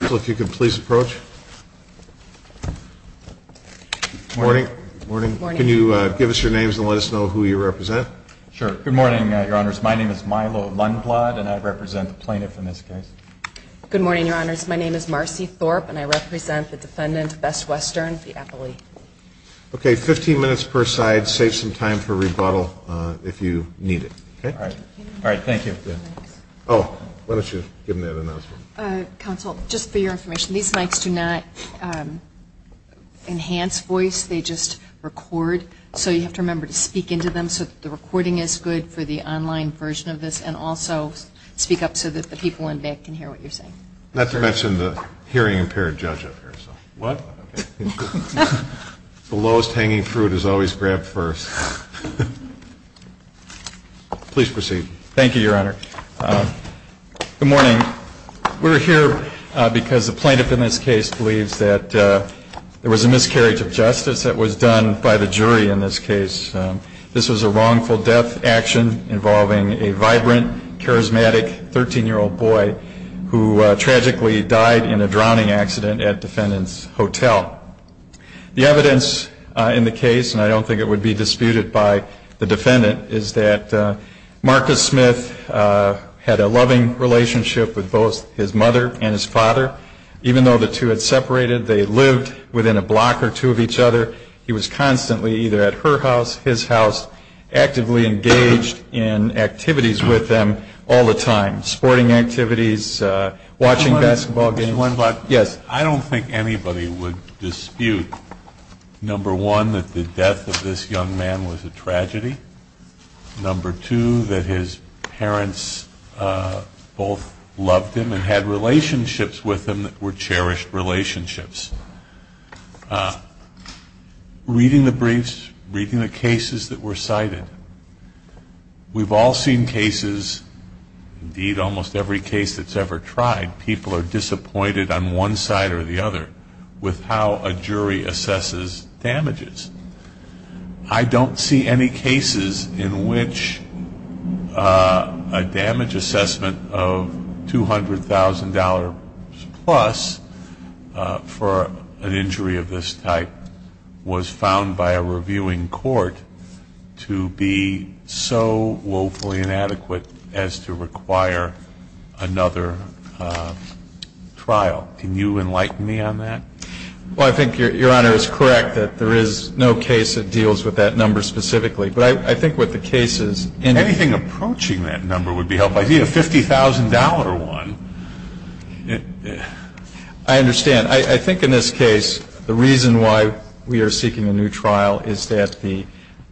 if you could please approach. Morning. Morning. Can you give us your names and let us know who you represent? Sure. Good morning, Your Honors. My name is Milo Lundblad, and I represent the plaintiff in this case. Good morning, Your Honors. My name is Marcy Thorpe, and I represent the defendant, Best Western, the appellee. Okay, 15 minutes per side. Save some time for rebuttal if you need it. All right. Thank you. Oh, why don't you give them that announcement. Counsel, just for your information, these mics do not enhance voice. They just record. So you have to remember to speak into them so that the recording is good for the online version of this, and also speak up so that the people in back can hear what you're saying. Not to mention the hearing impaired judge up here. What? The lowest hanging fruit is always grabbed first. Please proceed. Thank you, Your Honor. Good morning. We're here because the plaintiff in this case believes that there was a miscarriage of justice that was done by the jury in this case. This was a wrongful death action involving a vibrant, charismatic 13-year-old boy who tragically died in a drowning accident at defendant's hotel. The evidence in the case, and I don't think it would be disputed by the defendant, is that Marcus Smith had a loving relationship with both his mother and his father. Even though the two had separated, they lived within a block or two of each other. He was constantly either at her house, his house, actively engaged in activities with them all the time. Sporting activities, watching basketball games. I don't think anybody would dispute, number one, that the death of this young man was a tragedy. Number two, that his parents both loved him and had relationships with him that were cherished relationships. Reading the briefs, reading the cases that were cited, we've all seen cases, indeed almost every case that's ever tried, people are disappointed on one side or the other with how a jury assesses damages. I don't see any cases in which a damage assessment of $200,000 plus for an injury of this type was found by a reviewing court to be so woefully inadequate as to require another trial. Can you enlighten me on that? Well, I think Your Honor is correct that there is no case that deals with that number specifically. But I think what the case is in- Anything approaching that number would be helpful. I need a $50,000 one. I understand. I think in this case, the reason why we are seeking a new trial is that the,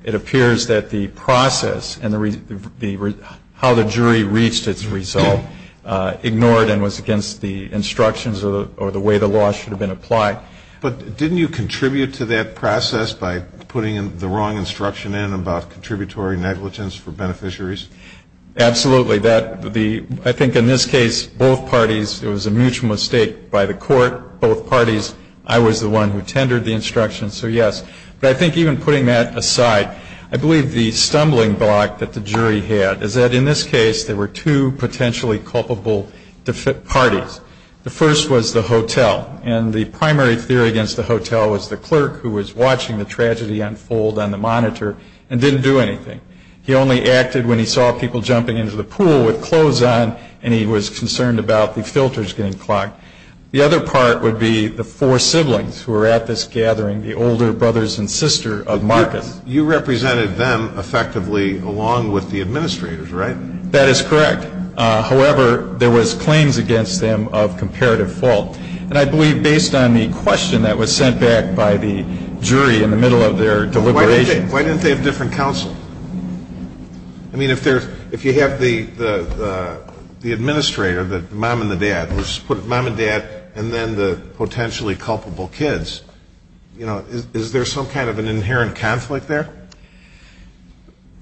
it appears that the process and how the jury reached its result ignored and was against the instructions or the way the law should have been applied. But didn't you contribute to that process by putting the wrong instruction in about contributory negligence for beneficiaries? Absolutely. I think in this case, both parties, it was a mutual mistake by the court, both parties. I was the one who tendered the instructions, so yes. But I think even putting that aside, I believe the stumbling block that the jury had is that in this case, there were two potentially culpable parties. The first was the hotel. And the primary theory against the hotel was the clerk who was watching the tragedy unfold on the monitor and didn't do anything. He only acted when he saw people jumping into the pool with clothes on and he was concerned about the filters getting clogged. The other part would be the four siblings who were at this gathering, the older brothers and sister of Marcus. You represented them effectively along with the administrators, right? That is correct. However, there was claims against them of comparative fault. And I believe based on the question that was sent back by the jury in the middle of their deliberations. Why didn't they have different counsel? I mean, if you have the administrator, the mom and the dad, let's put mom and dad and then the potentially culpable kids. You know, is there some kind of an inherent conflict there?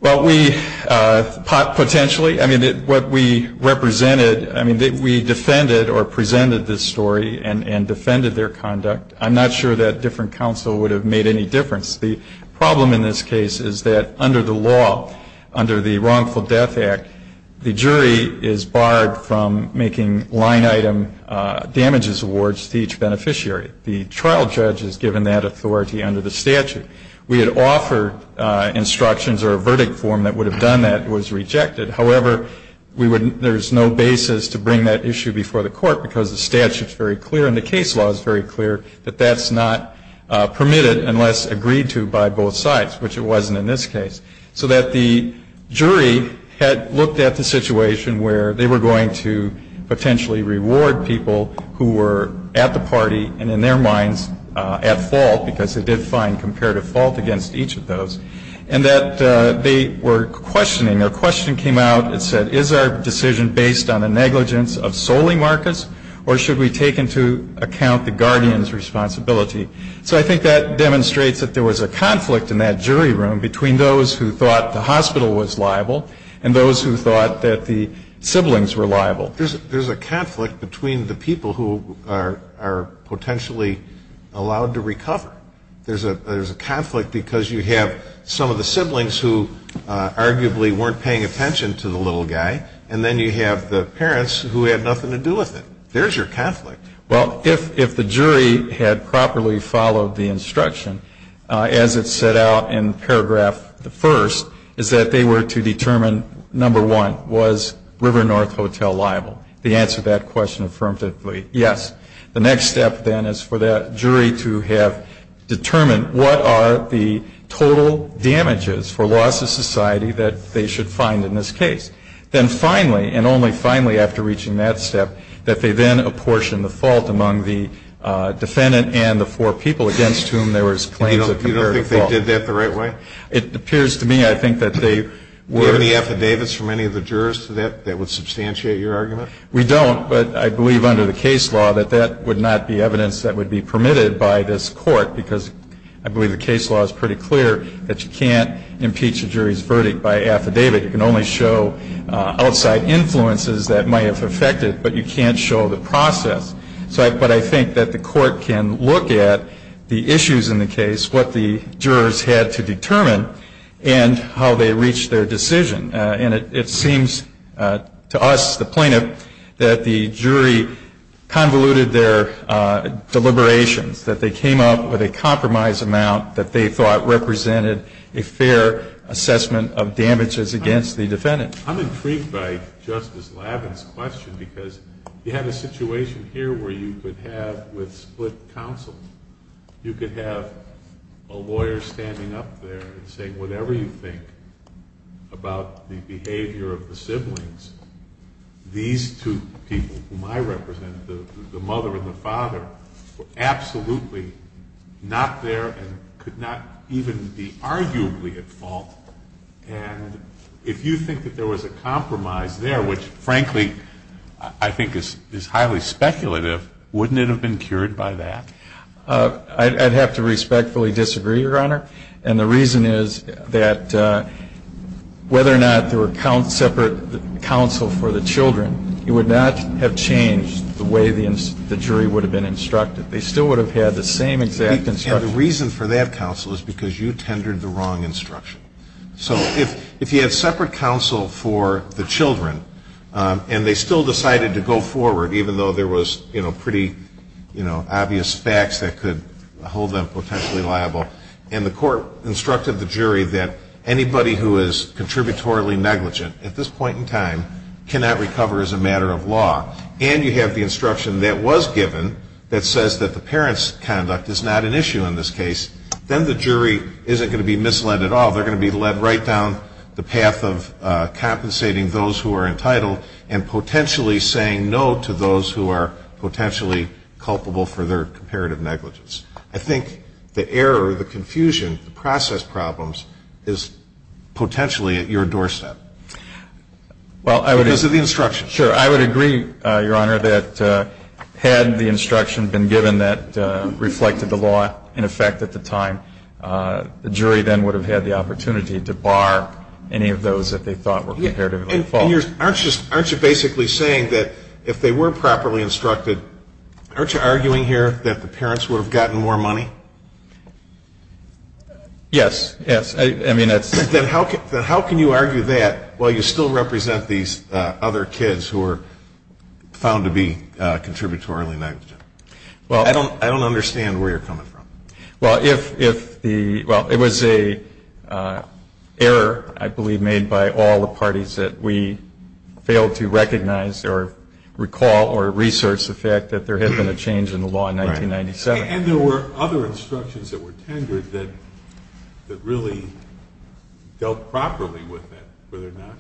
Well, we potentially, I mean, what we represented, I mean, we defended or presented this story and defended their conduct. I'm not sure that different counsel would have made any difference. The problem in this case is that under the law, under the Wrongful Death Act, the jury is barred from making line item damages awards to each beneficiary. The trial judge is given that authority under the statute. We had offered instructions or a verdict form that would have done that. It was rejected. However, there is no basis to bring that issue before the court because the statute is very clear and the case law is very clear that that's not permitted unless agreed to by both sides, which it wasn't in this case. So that the jury had looked at the situation where they were going to potentially reward people who were at the party and in their minds at fault because they did find comparative fault against each of those. And that they were questioning. Their question came out and said, is our decision based on a negligence of solely Marcus or should we take into account the guardian's responsibility? So I think that demonstrates that there was a conflict in that jury room between those who thought the hospital was liable and those who thought that the siblings were liable. There's a conflict between the people who are potentially allowed to recover. There's a conflict because you have some of the siblings who arguably weren't paying attention to the little guy. And then you have the parents who had nothing to do with it. There's your conflict. Well, if the jury had properly followed the instruction as it set out in paragraph the first, is that they were to determine, number one, was River North Hotel liable? They answered that question affirmatively, yes. The next step then is for that jury to have determined what are the total damages for loss of society that they should find in this case. Then finally, and only finally after reaching that step, that they then apportion the fault among the defendant and the four people against whom there was claims of comparative fault. You don't think they did that the right way? It appears to me I think that they were. Do you have any affidavits from any of the jurors to that that would substantiate your argument? We don't, but I believe under the case law that that would not be evidence that would be permitted by this court because I believe the case law is pretty clear that you can't impeach a jury's verdict by affidavit. You can only show outside influences that might have affected, but you can't show the process. But I think that the court can look at the issues in the case, what the jurors had to determine, and how they reached their decision. And it seems to us, the plaintiff, that the jury convoluted their deliberations, that they came up with a compromise amount that they thought represented a fair assessment of damages against the defendant. I'm intrigued by Justice Lavin's question because you have a situation here where you could have with split counsel, you could have a lawyer standing up there and saying whatever you think about the behavior of the siblings, these two people whom I represent, the mother and the father, were absolutely not there and could not even be arguably at fault. And if you think that there was a compromise there, which frankly I think is highly speculative, wouldn't it have been cured by that? I'd have to respectfully disagree, Your Honor. And the reason is that whether or not there were separate counsel for the children, it would not have changed the way the jury would have been instructed. They still would have had the same exact instruction. And the reason for that counsel is because you tendered the wrong instruction. So if you had separate counsel for the children and they still decided to go forward, even though there was pretty obvious facts that could hold them potentially liable, and the court instructed the jury that anybody who is contributorily negligent at this point in time cannot recover as a matter of law, and you have the instruction that was given that says that the parent's conduct is not an issue in this case, then the jury isn't going to be misled at all. They're going to be led right down the path of compensating those who are entitled and potentially saying no to those who are potentially culpable for their comparative negligence. I think the error, the confusion, the process problems is potentially at your doorstep. Because of the instruction. Sure. I would agree, Your Honor, that had the instruction been given that reflected the law in effect at the time, the jury then would have had the opportunity to bar any of those that they thought were comparatively false. And aren't you basically saying that if they were properly instructed, aren't you arguing here that the parents would have gotten more money? Yes. Yes. I mean, that's. Then how can you argue that while you still represent these other kids who are found to be contributorily negligent? Well, I don't understand where you're coming from. Well, if the, well, it was a error, I believe, made by all the parties that we failed to recognize or recall or research the fact that there had been a change in the law in 1997. And there were other instructions that were tendered that really dealt properly with that, were there not?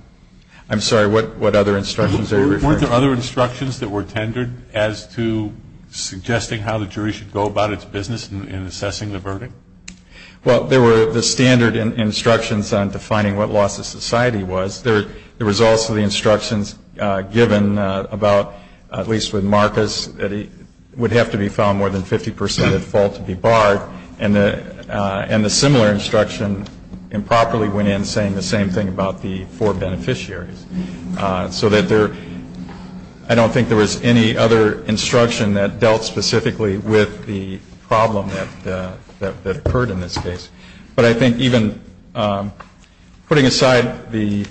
I'm sorry, what other instructions are you referring to? Weren't there other instructions that were tendered as to suggesting how the jury should go about its business in assessing the verdict? Well, there were the standard instructions on defining what loss of society was. There was also the instructions given about, at least with Marcus, that it would have to be found more than 50% at fault to be barred. And the similar instruction improperly went in saying the same thing about the four beneficiaries. So that there, I don't think there was any other instruction that dealt specifically with the problem that occurred in this case. But I think even putting aside the...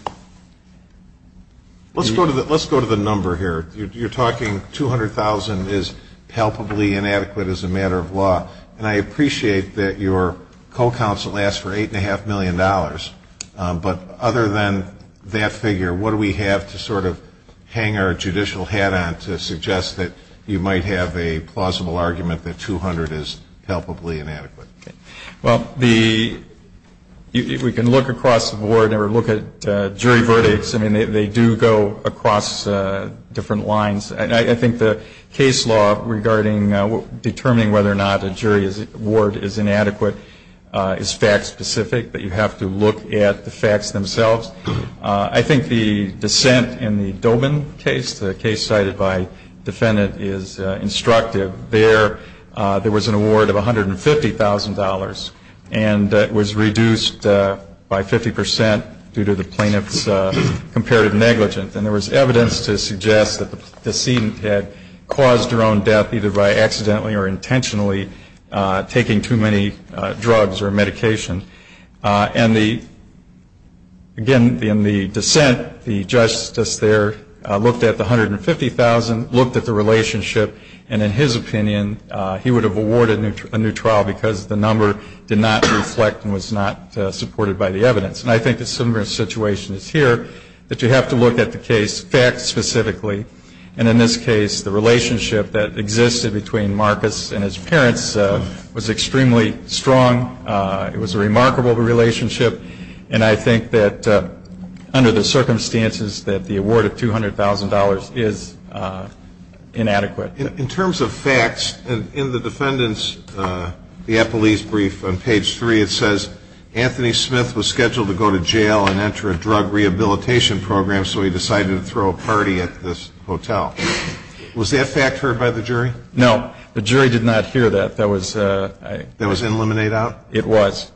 Let's go to the number here. You're talking 200,000 is palpably inadequate as a matter of law. And I appreciate that your co-counsel asked for $8.5 million. But other than that figure, what do we have to sort of hang our judicial hat on to suggest that you might have a plausible argument that 200 is palpably inadequate? Well, we can look across the board or look at jury verdicts. I mean, they do go across different lines. And I think the case law regarding determining whether or not a jury award is inadequate is fact specific. But you have to look at the facts themselves. I think the dissent in the Dobin case, the case cited by defendant, is instructive. There was an award of $150,000. And it was reduced by 50% due to the plaintiff's comparative negligence. And there was evidence to suggest that the decedent had caused her own death either by accidentally or intentionally taking too many drugs or medication. And again, in the dissent, the justice there looked at the $150,000, looked at the relationship. And in his opinion, he would have awarded a new trial because the number did not reflect and was not supported by the evidence. And I think a similar situation is here, that you have to look at the case facts specifically. And in this case, the relationship that existed between Marcus and his parents was extremely strong. It was a remarkable relationship. And I think that under the circumstances that the award of $200,000 is inadequate. In terms of facts, in the defendant's, the appellee's brief on page 3, it says, Anthony Smith was scheduled to go to jail and enter a drug rehabilitation program, so he decided to throw a party at this hotel. Was that fact heard by the jury? No. The jury did not hear that. That was... That was in limine out? It was.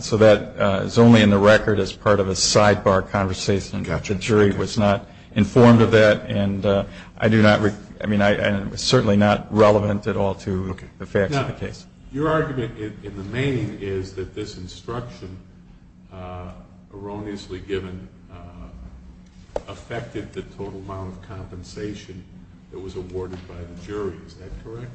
So that is only in the record as part of a sidebar conversation. The jury was not informed of that. And I do not, I mean, it was certainly not relevant at all to the facts of the case. Now, your argument in the main is that this instruction erroneously given affected the total amount of compensation that was awarded by the jury. Is that correct?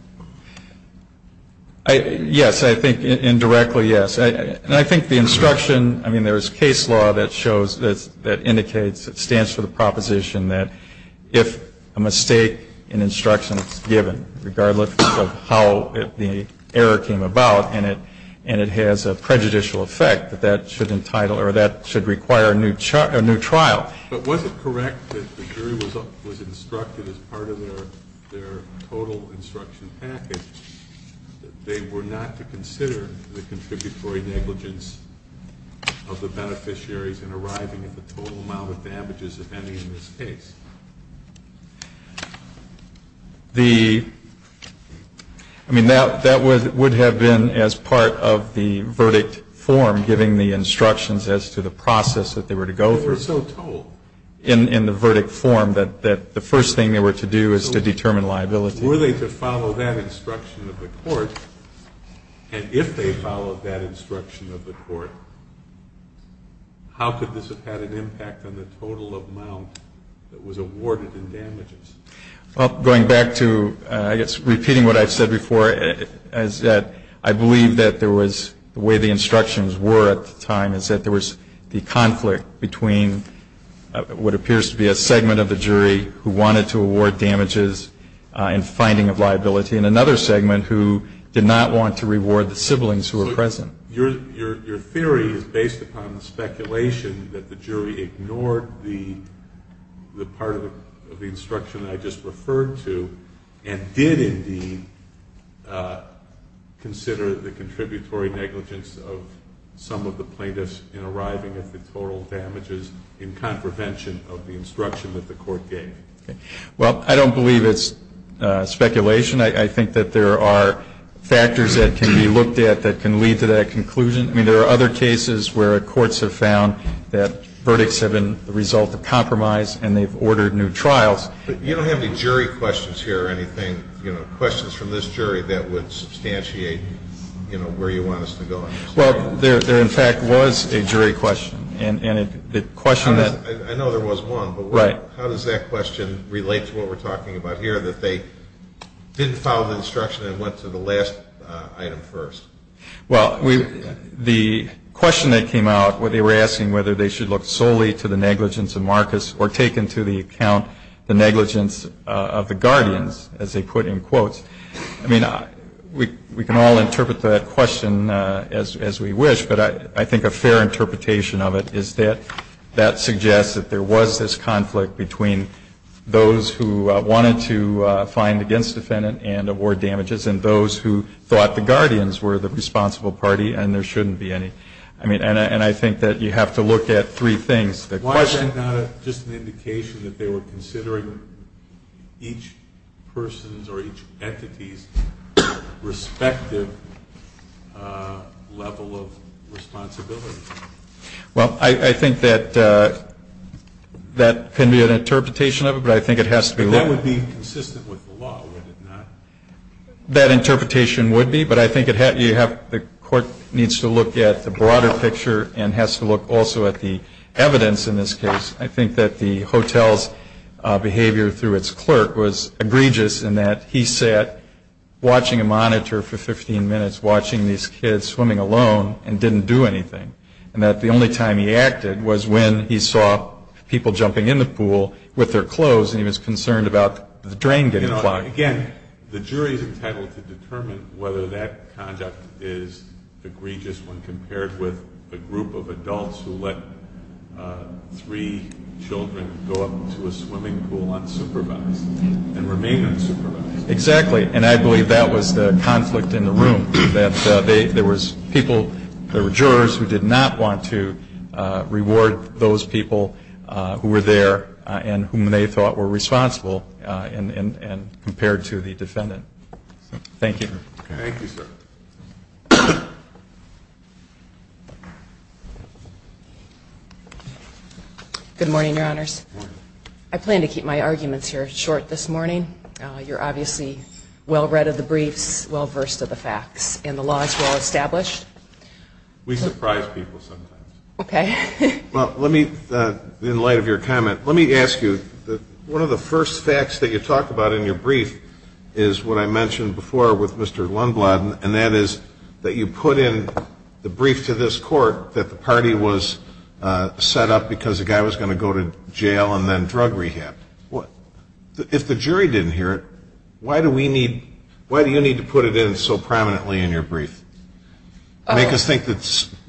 Yes. I think indirectly, yes. And I think the instruction, I mean, there is case law that shows, that indicates, it stands for the proposition that if a mistake in instruction is given, regardless of how the error came about, and it has a prejudicial effect, that that should entitle, or that should require a new trial. But was it correct that the jury was instructed as part of their total instruction package that they were not to consider the contributory negligence of the beneficiaries in arriving at the total amount of damages, if any, in this case? The, I mean, that would have been as part of the verdict form giving the instructions as to the process that they were to go through. They were so told. In the verdict form that the first thing they were to do is to determine liability. Were they to follow that instruction of the court, and if they followed that instruction of the court, how could this have had an impact on the total amount that was awarded in damages? Well, going back to, I guess, repeating what I've said before, is that I believe that there was, the way the instructions were at the time, is that there was the conflict between what appears to be a segment of the jury who wanted to award damages and finding of liability, and another segment who did not want to reward the siblings who were present. So your theory is based upon the speculation that the jury ignored the part of the instruction that I just referred to, and did indeed consider the contributory negligence of some of the plaintiffs in arriving at the total damages in contravention of the instruction that the court gave? Well, I don't believe it's speculation. I think that there are factors that can be looked at that can lead to that conclusion. I mean, there are other cases where courts have found that verdicts have been the result of compromise, and they've ordered new trials. But you don't have any jury questions here or anything, you know, questions from this jury that would substantiate, you know, where you want us to go? Well, there in fact was a jury question, and the question that... I know there was one, but how does that question relate to what we're talking about here, that they didn't follow the instruction and went to the last item first? Well, the question that came out where they were asking whether they should look solely to the negligence of Marcus or take into the account the negligence of the guardians, as they put in quotes, I mean, we can all interpret that question as we wish, but I think a fair interpretation of it is that that suggests that there was this conflict between those who wanted to find against defendant and award damages, and those who thought the guardians were the responsible party, and there shouldn't be any. I mean, and I think that you have to look at three things. Why is that not just an indication that they were considering each person's or each entity's respective level of responsibility? Well, I think that that can be an interpretation of it, but I think it has to be... But that would be consistent with the law, would it not? That interpretation would be, but I think the court needs to look at the broader picture and has to look also at the evidence in this case. I think that the hotel's behavior through its clerk was egregious in that he sat watching a monitor for 15 minutes, watching these kids swimming alone and didn't do anything, and that the only time he acted was when he saw people jumping in the pool with their clothes and he was concerned about the drain getting clogged. Again, the jury's entitled to determine whether that conduct is egregious when compared with a group of adults who let three children go up to a swimming pool unsupervised and remain unsupervised. Exactly, and I believe that was the conflict in the room, that there was people, there were jurors who did not want to reward those people who were there and whom they thought were responsible and compared to the defendant. Thank you. Thank you, sir. Good morning, Your Honors. I plan to keep my arguments here short this morning. You're obviously well-read of the briefs, well-versed of the facts, and the law is well-established. We surprise people sometimes. Okay. Well, let me, in light of your comment, let me ask you, one of the first facts that you talked about in your brief is what I mentioned before with Mr. Lundblad, and that is that you put in the brief to this court that the party was set up because a guy was going to go to jail and then drug rehab. If the jury didn't hear it, why do we need, why do you need to put it in so prominently in your brief? To make us think that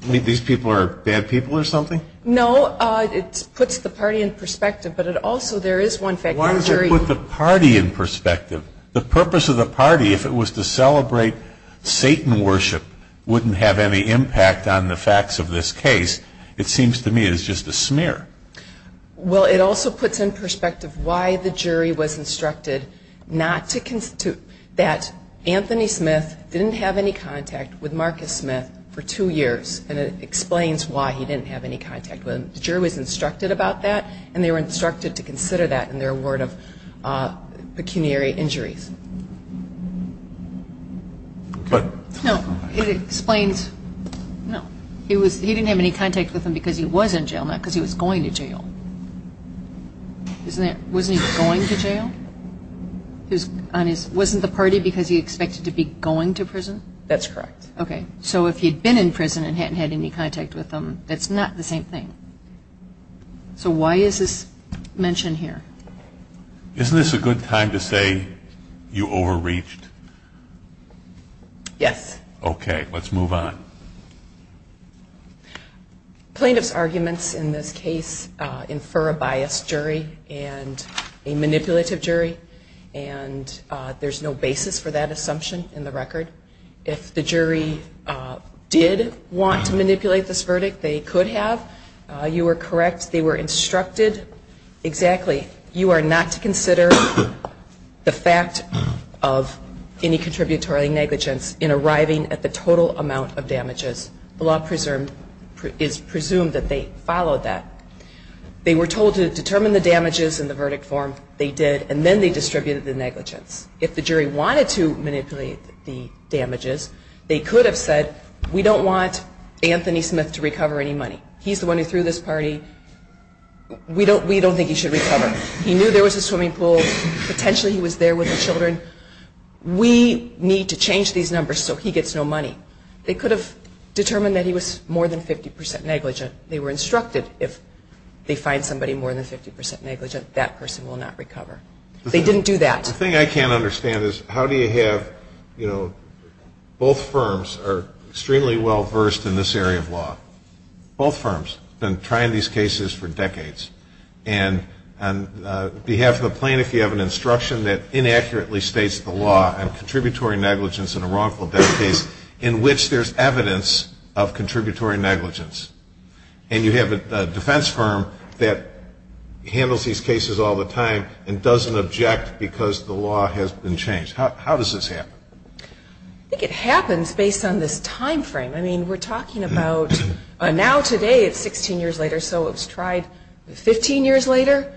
these people are bad people or something? No, it puts the party in perspective, but it also, there is one fact. Why does it put the party in perspective? The purpose of the party, if it was to celebrate Satan worship, wouldn't have any impact on the facts of this case. It seems to me it is just a smear. Well, it also puts in perspective why the jury was instructed not to, that Anthony Smith didn't have any contact with Marcus Smith for two years, and it explains why he didn't have any contact with him. The jury was instructed about that, and they were instructed to consider that in their award of pecuniary injuries. Okay. No, it explains, no, he didn't have any contact with him because he was in jail, not because he was going to jail. Isn't that, wasn't he going to jail? Wasn't the party because he expected to be going to prison? That's correct. Okay, so if he'd been in prison and hadn't had any contact with him, that's not the same thing. So why is this mentioned here? Isn't this a good time to say you overreached? Yes. Okay, let's move on. Plaintiff's arguments in this case infer a biased jury and a manipulative jury, and there's no basis for that assumption in the record. If the jury did want to manipulate this verdict, they could have. You are correct, they were instructed exactly. You are not to consider the fact of any contributory negligence in arriving at the total amount of damages. The law is presumed that they followed that. They were told to determine the damages in the verdict form. They did, and then they distributed the negligence. If the jury wanted to manipulate the damages, they could have said we don't want Anthony Smith to recover any money. He's the one who threw this party. We don't, we don't think he should recover. He knew there was a swimming pool. Potentially he was there with the children. We need to change these numbers so he gets no money. They could have determined that he was more than 50% negligent. They were instructed if they find somebody more than 50% negligent, that person will not recover. They didn't do that. The thing I can't understand is how do you have, you know, both firms are extremely well versed in this area of law. Both firms have been trying these cases for decades. And on behalf of the plaintiff, you have an instruction that inaccurately states the law on contributory negligence and a wrongful death case in which there's evidence of contributory negligence. And you have a defense firm that handles these cases all the time and doesn't object because the law has been changed. How does this happen? I think it happens based on this time frame. I mean, we're talking about now today it's 16 years later. So it was tried 15 years later.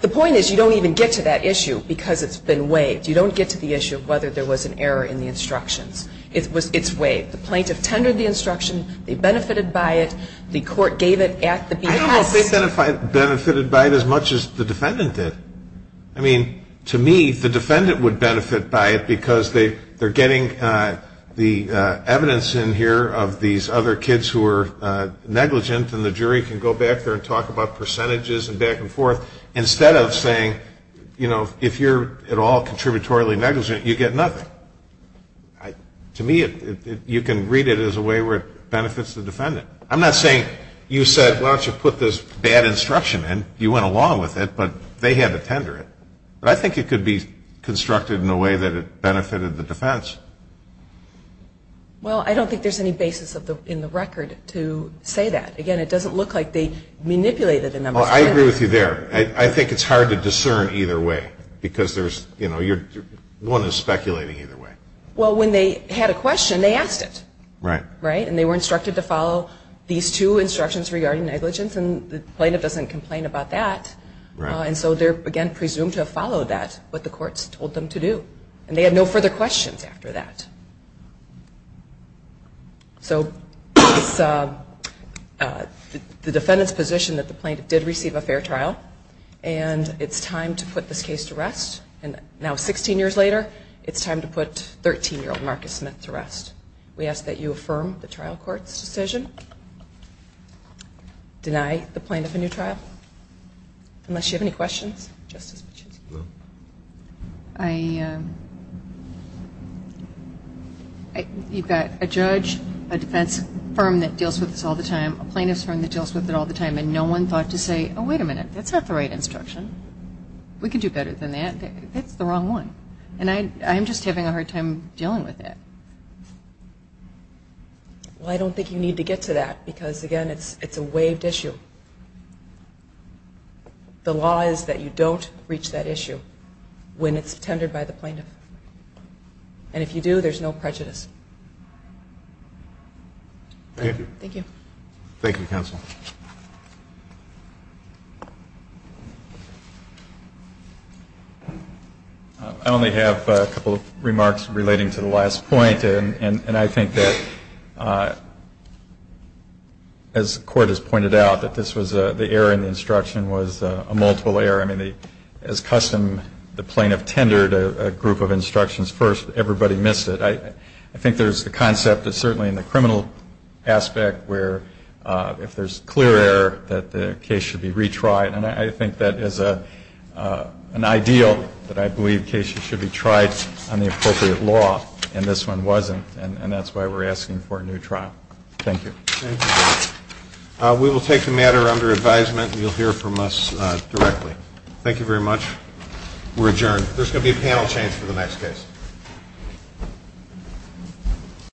The point is you don't even get to that issue because it's been weighed. You don't get to the issue of whether there was an error in the instructions. It was weighed. The plaintiff tendered the instruction. They benefited by it. The court gave it at the behest. I don't know if they benefited by it as much as the defendant did. I mean, to me, the defendant would benefit by it because they're getting the evidence in here of these other kids who were negligent. And the jury can go back there and talk about percentages and back and forth instead of saying, you know, if you're at all contributory negligent, you get nothing. To me, you can read it as a way where it benefits the defendant. I'm not saying you said, why don't you put this bad instruction in? You went along with it, but they had to tender it. But I think it could be constructed in a way that it benefited the defense. Well, I don't think there's any basis in the record to say that. Again, it doesn't look like they manipulated the numbers. Well, I agree with you there. I think it's hard to discern either way because there's, you know, one is speculating either way. Well, when they had a question, they asked it. Right. Right. And they were instructed to follow these two instructions regarding negligence. And the plaintiff doesn't complain about that. Right. And so they're, again, presumed to have followed that, what the courts told them to do. And they had no further questions after that. So it's the defendant's position that the plaintiff did receive a fair trial. And it's time to put this case to rest. And now, 16 years later, it's time to put 13-year-old Marcus Smith to rest. We ask that you affirm the trial court's decision. Deny the plaintiff a new trial. Unless you have any questions, Justice Pachinski? No. I, you've got a judge, a defense firm that deals with this all the time, a plaintiff's firm that deals with it all the time, and no one thought to say, oh, wait a minute, that's not the right instruction. We can do better than that. That's the wrong one. And I'm just having a hard time dealing with it. Well, I don't think you need to get to that because, again, it's a waived issue. The law is that you don't reach that issue when it's tendered by the plaintiff. And if you do, there's no prejudice. Thank you. Thank you. Thank you, counsel. I only have a couple of remarks relating to the last point. And I think that, as the court has pointed out, that this was the error in the instruction was a multiple error. I mean, as custom, the plaintiff tendered a group of instructions first. Everybody missed it. I think there's the concept that certainly in the criminal aspect where if there's clear error that the case should be retried. And I think that is an ideal that I believe cases should be tried on the appropriate law. And this one wasn't. And that's why we're asking for a new trial. Thank you. Thank you. We will take the matter under advisement. You'll hear from us directly. Thank you very much. We're adjourned. There's going to be a panel change for the next case.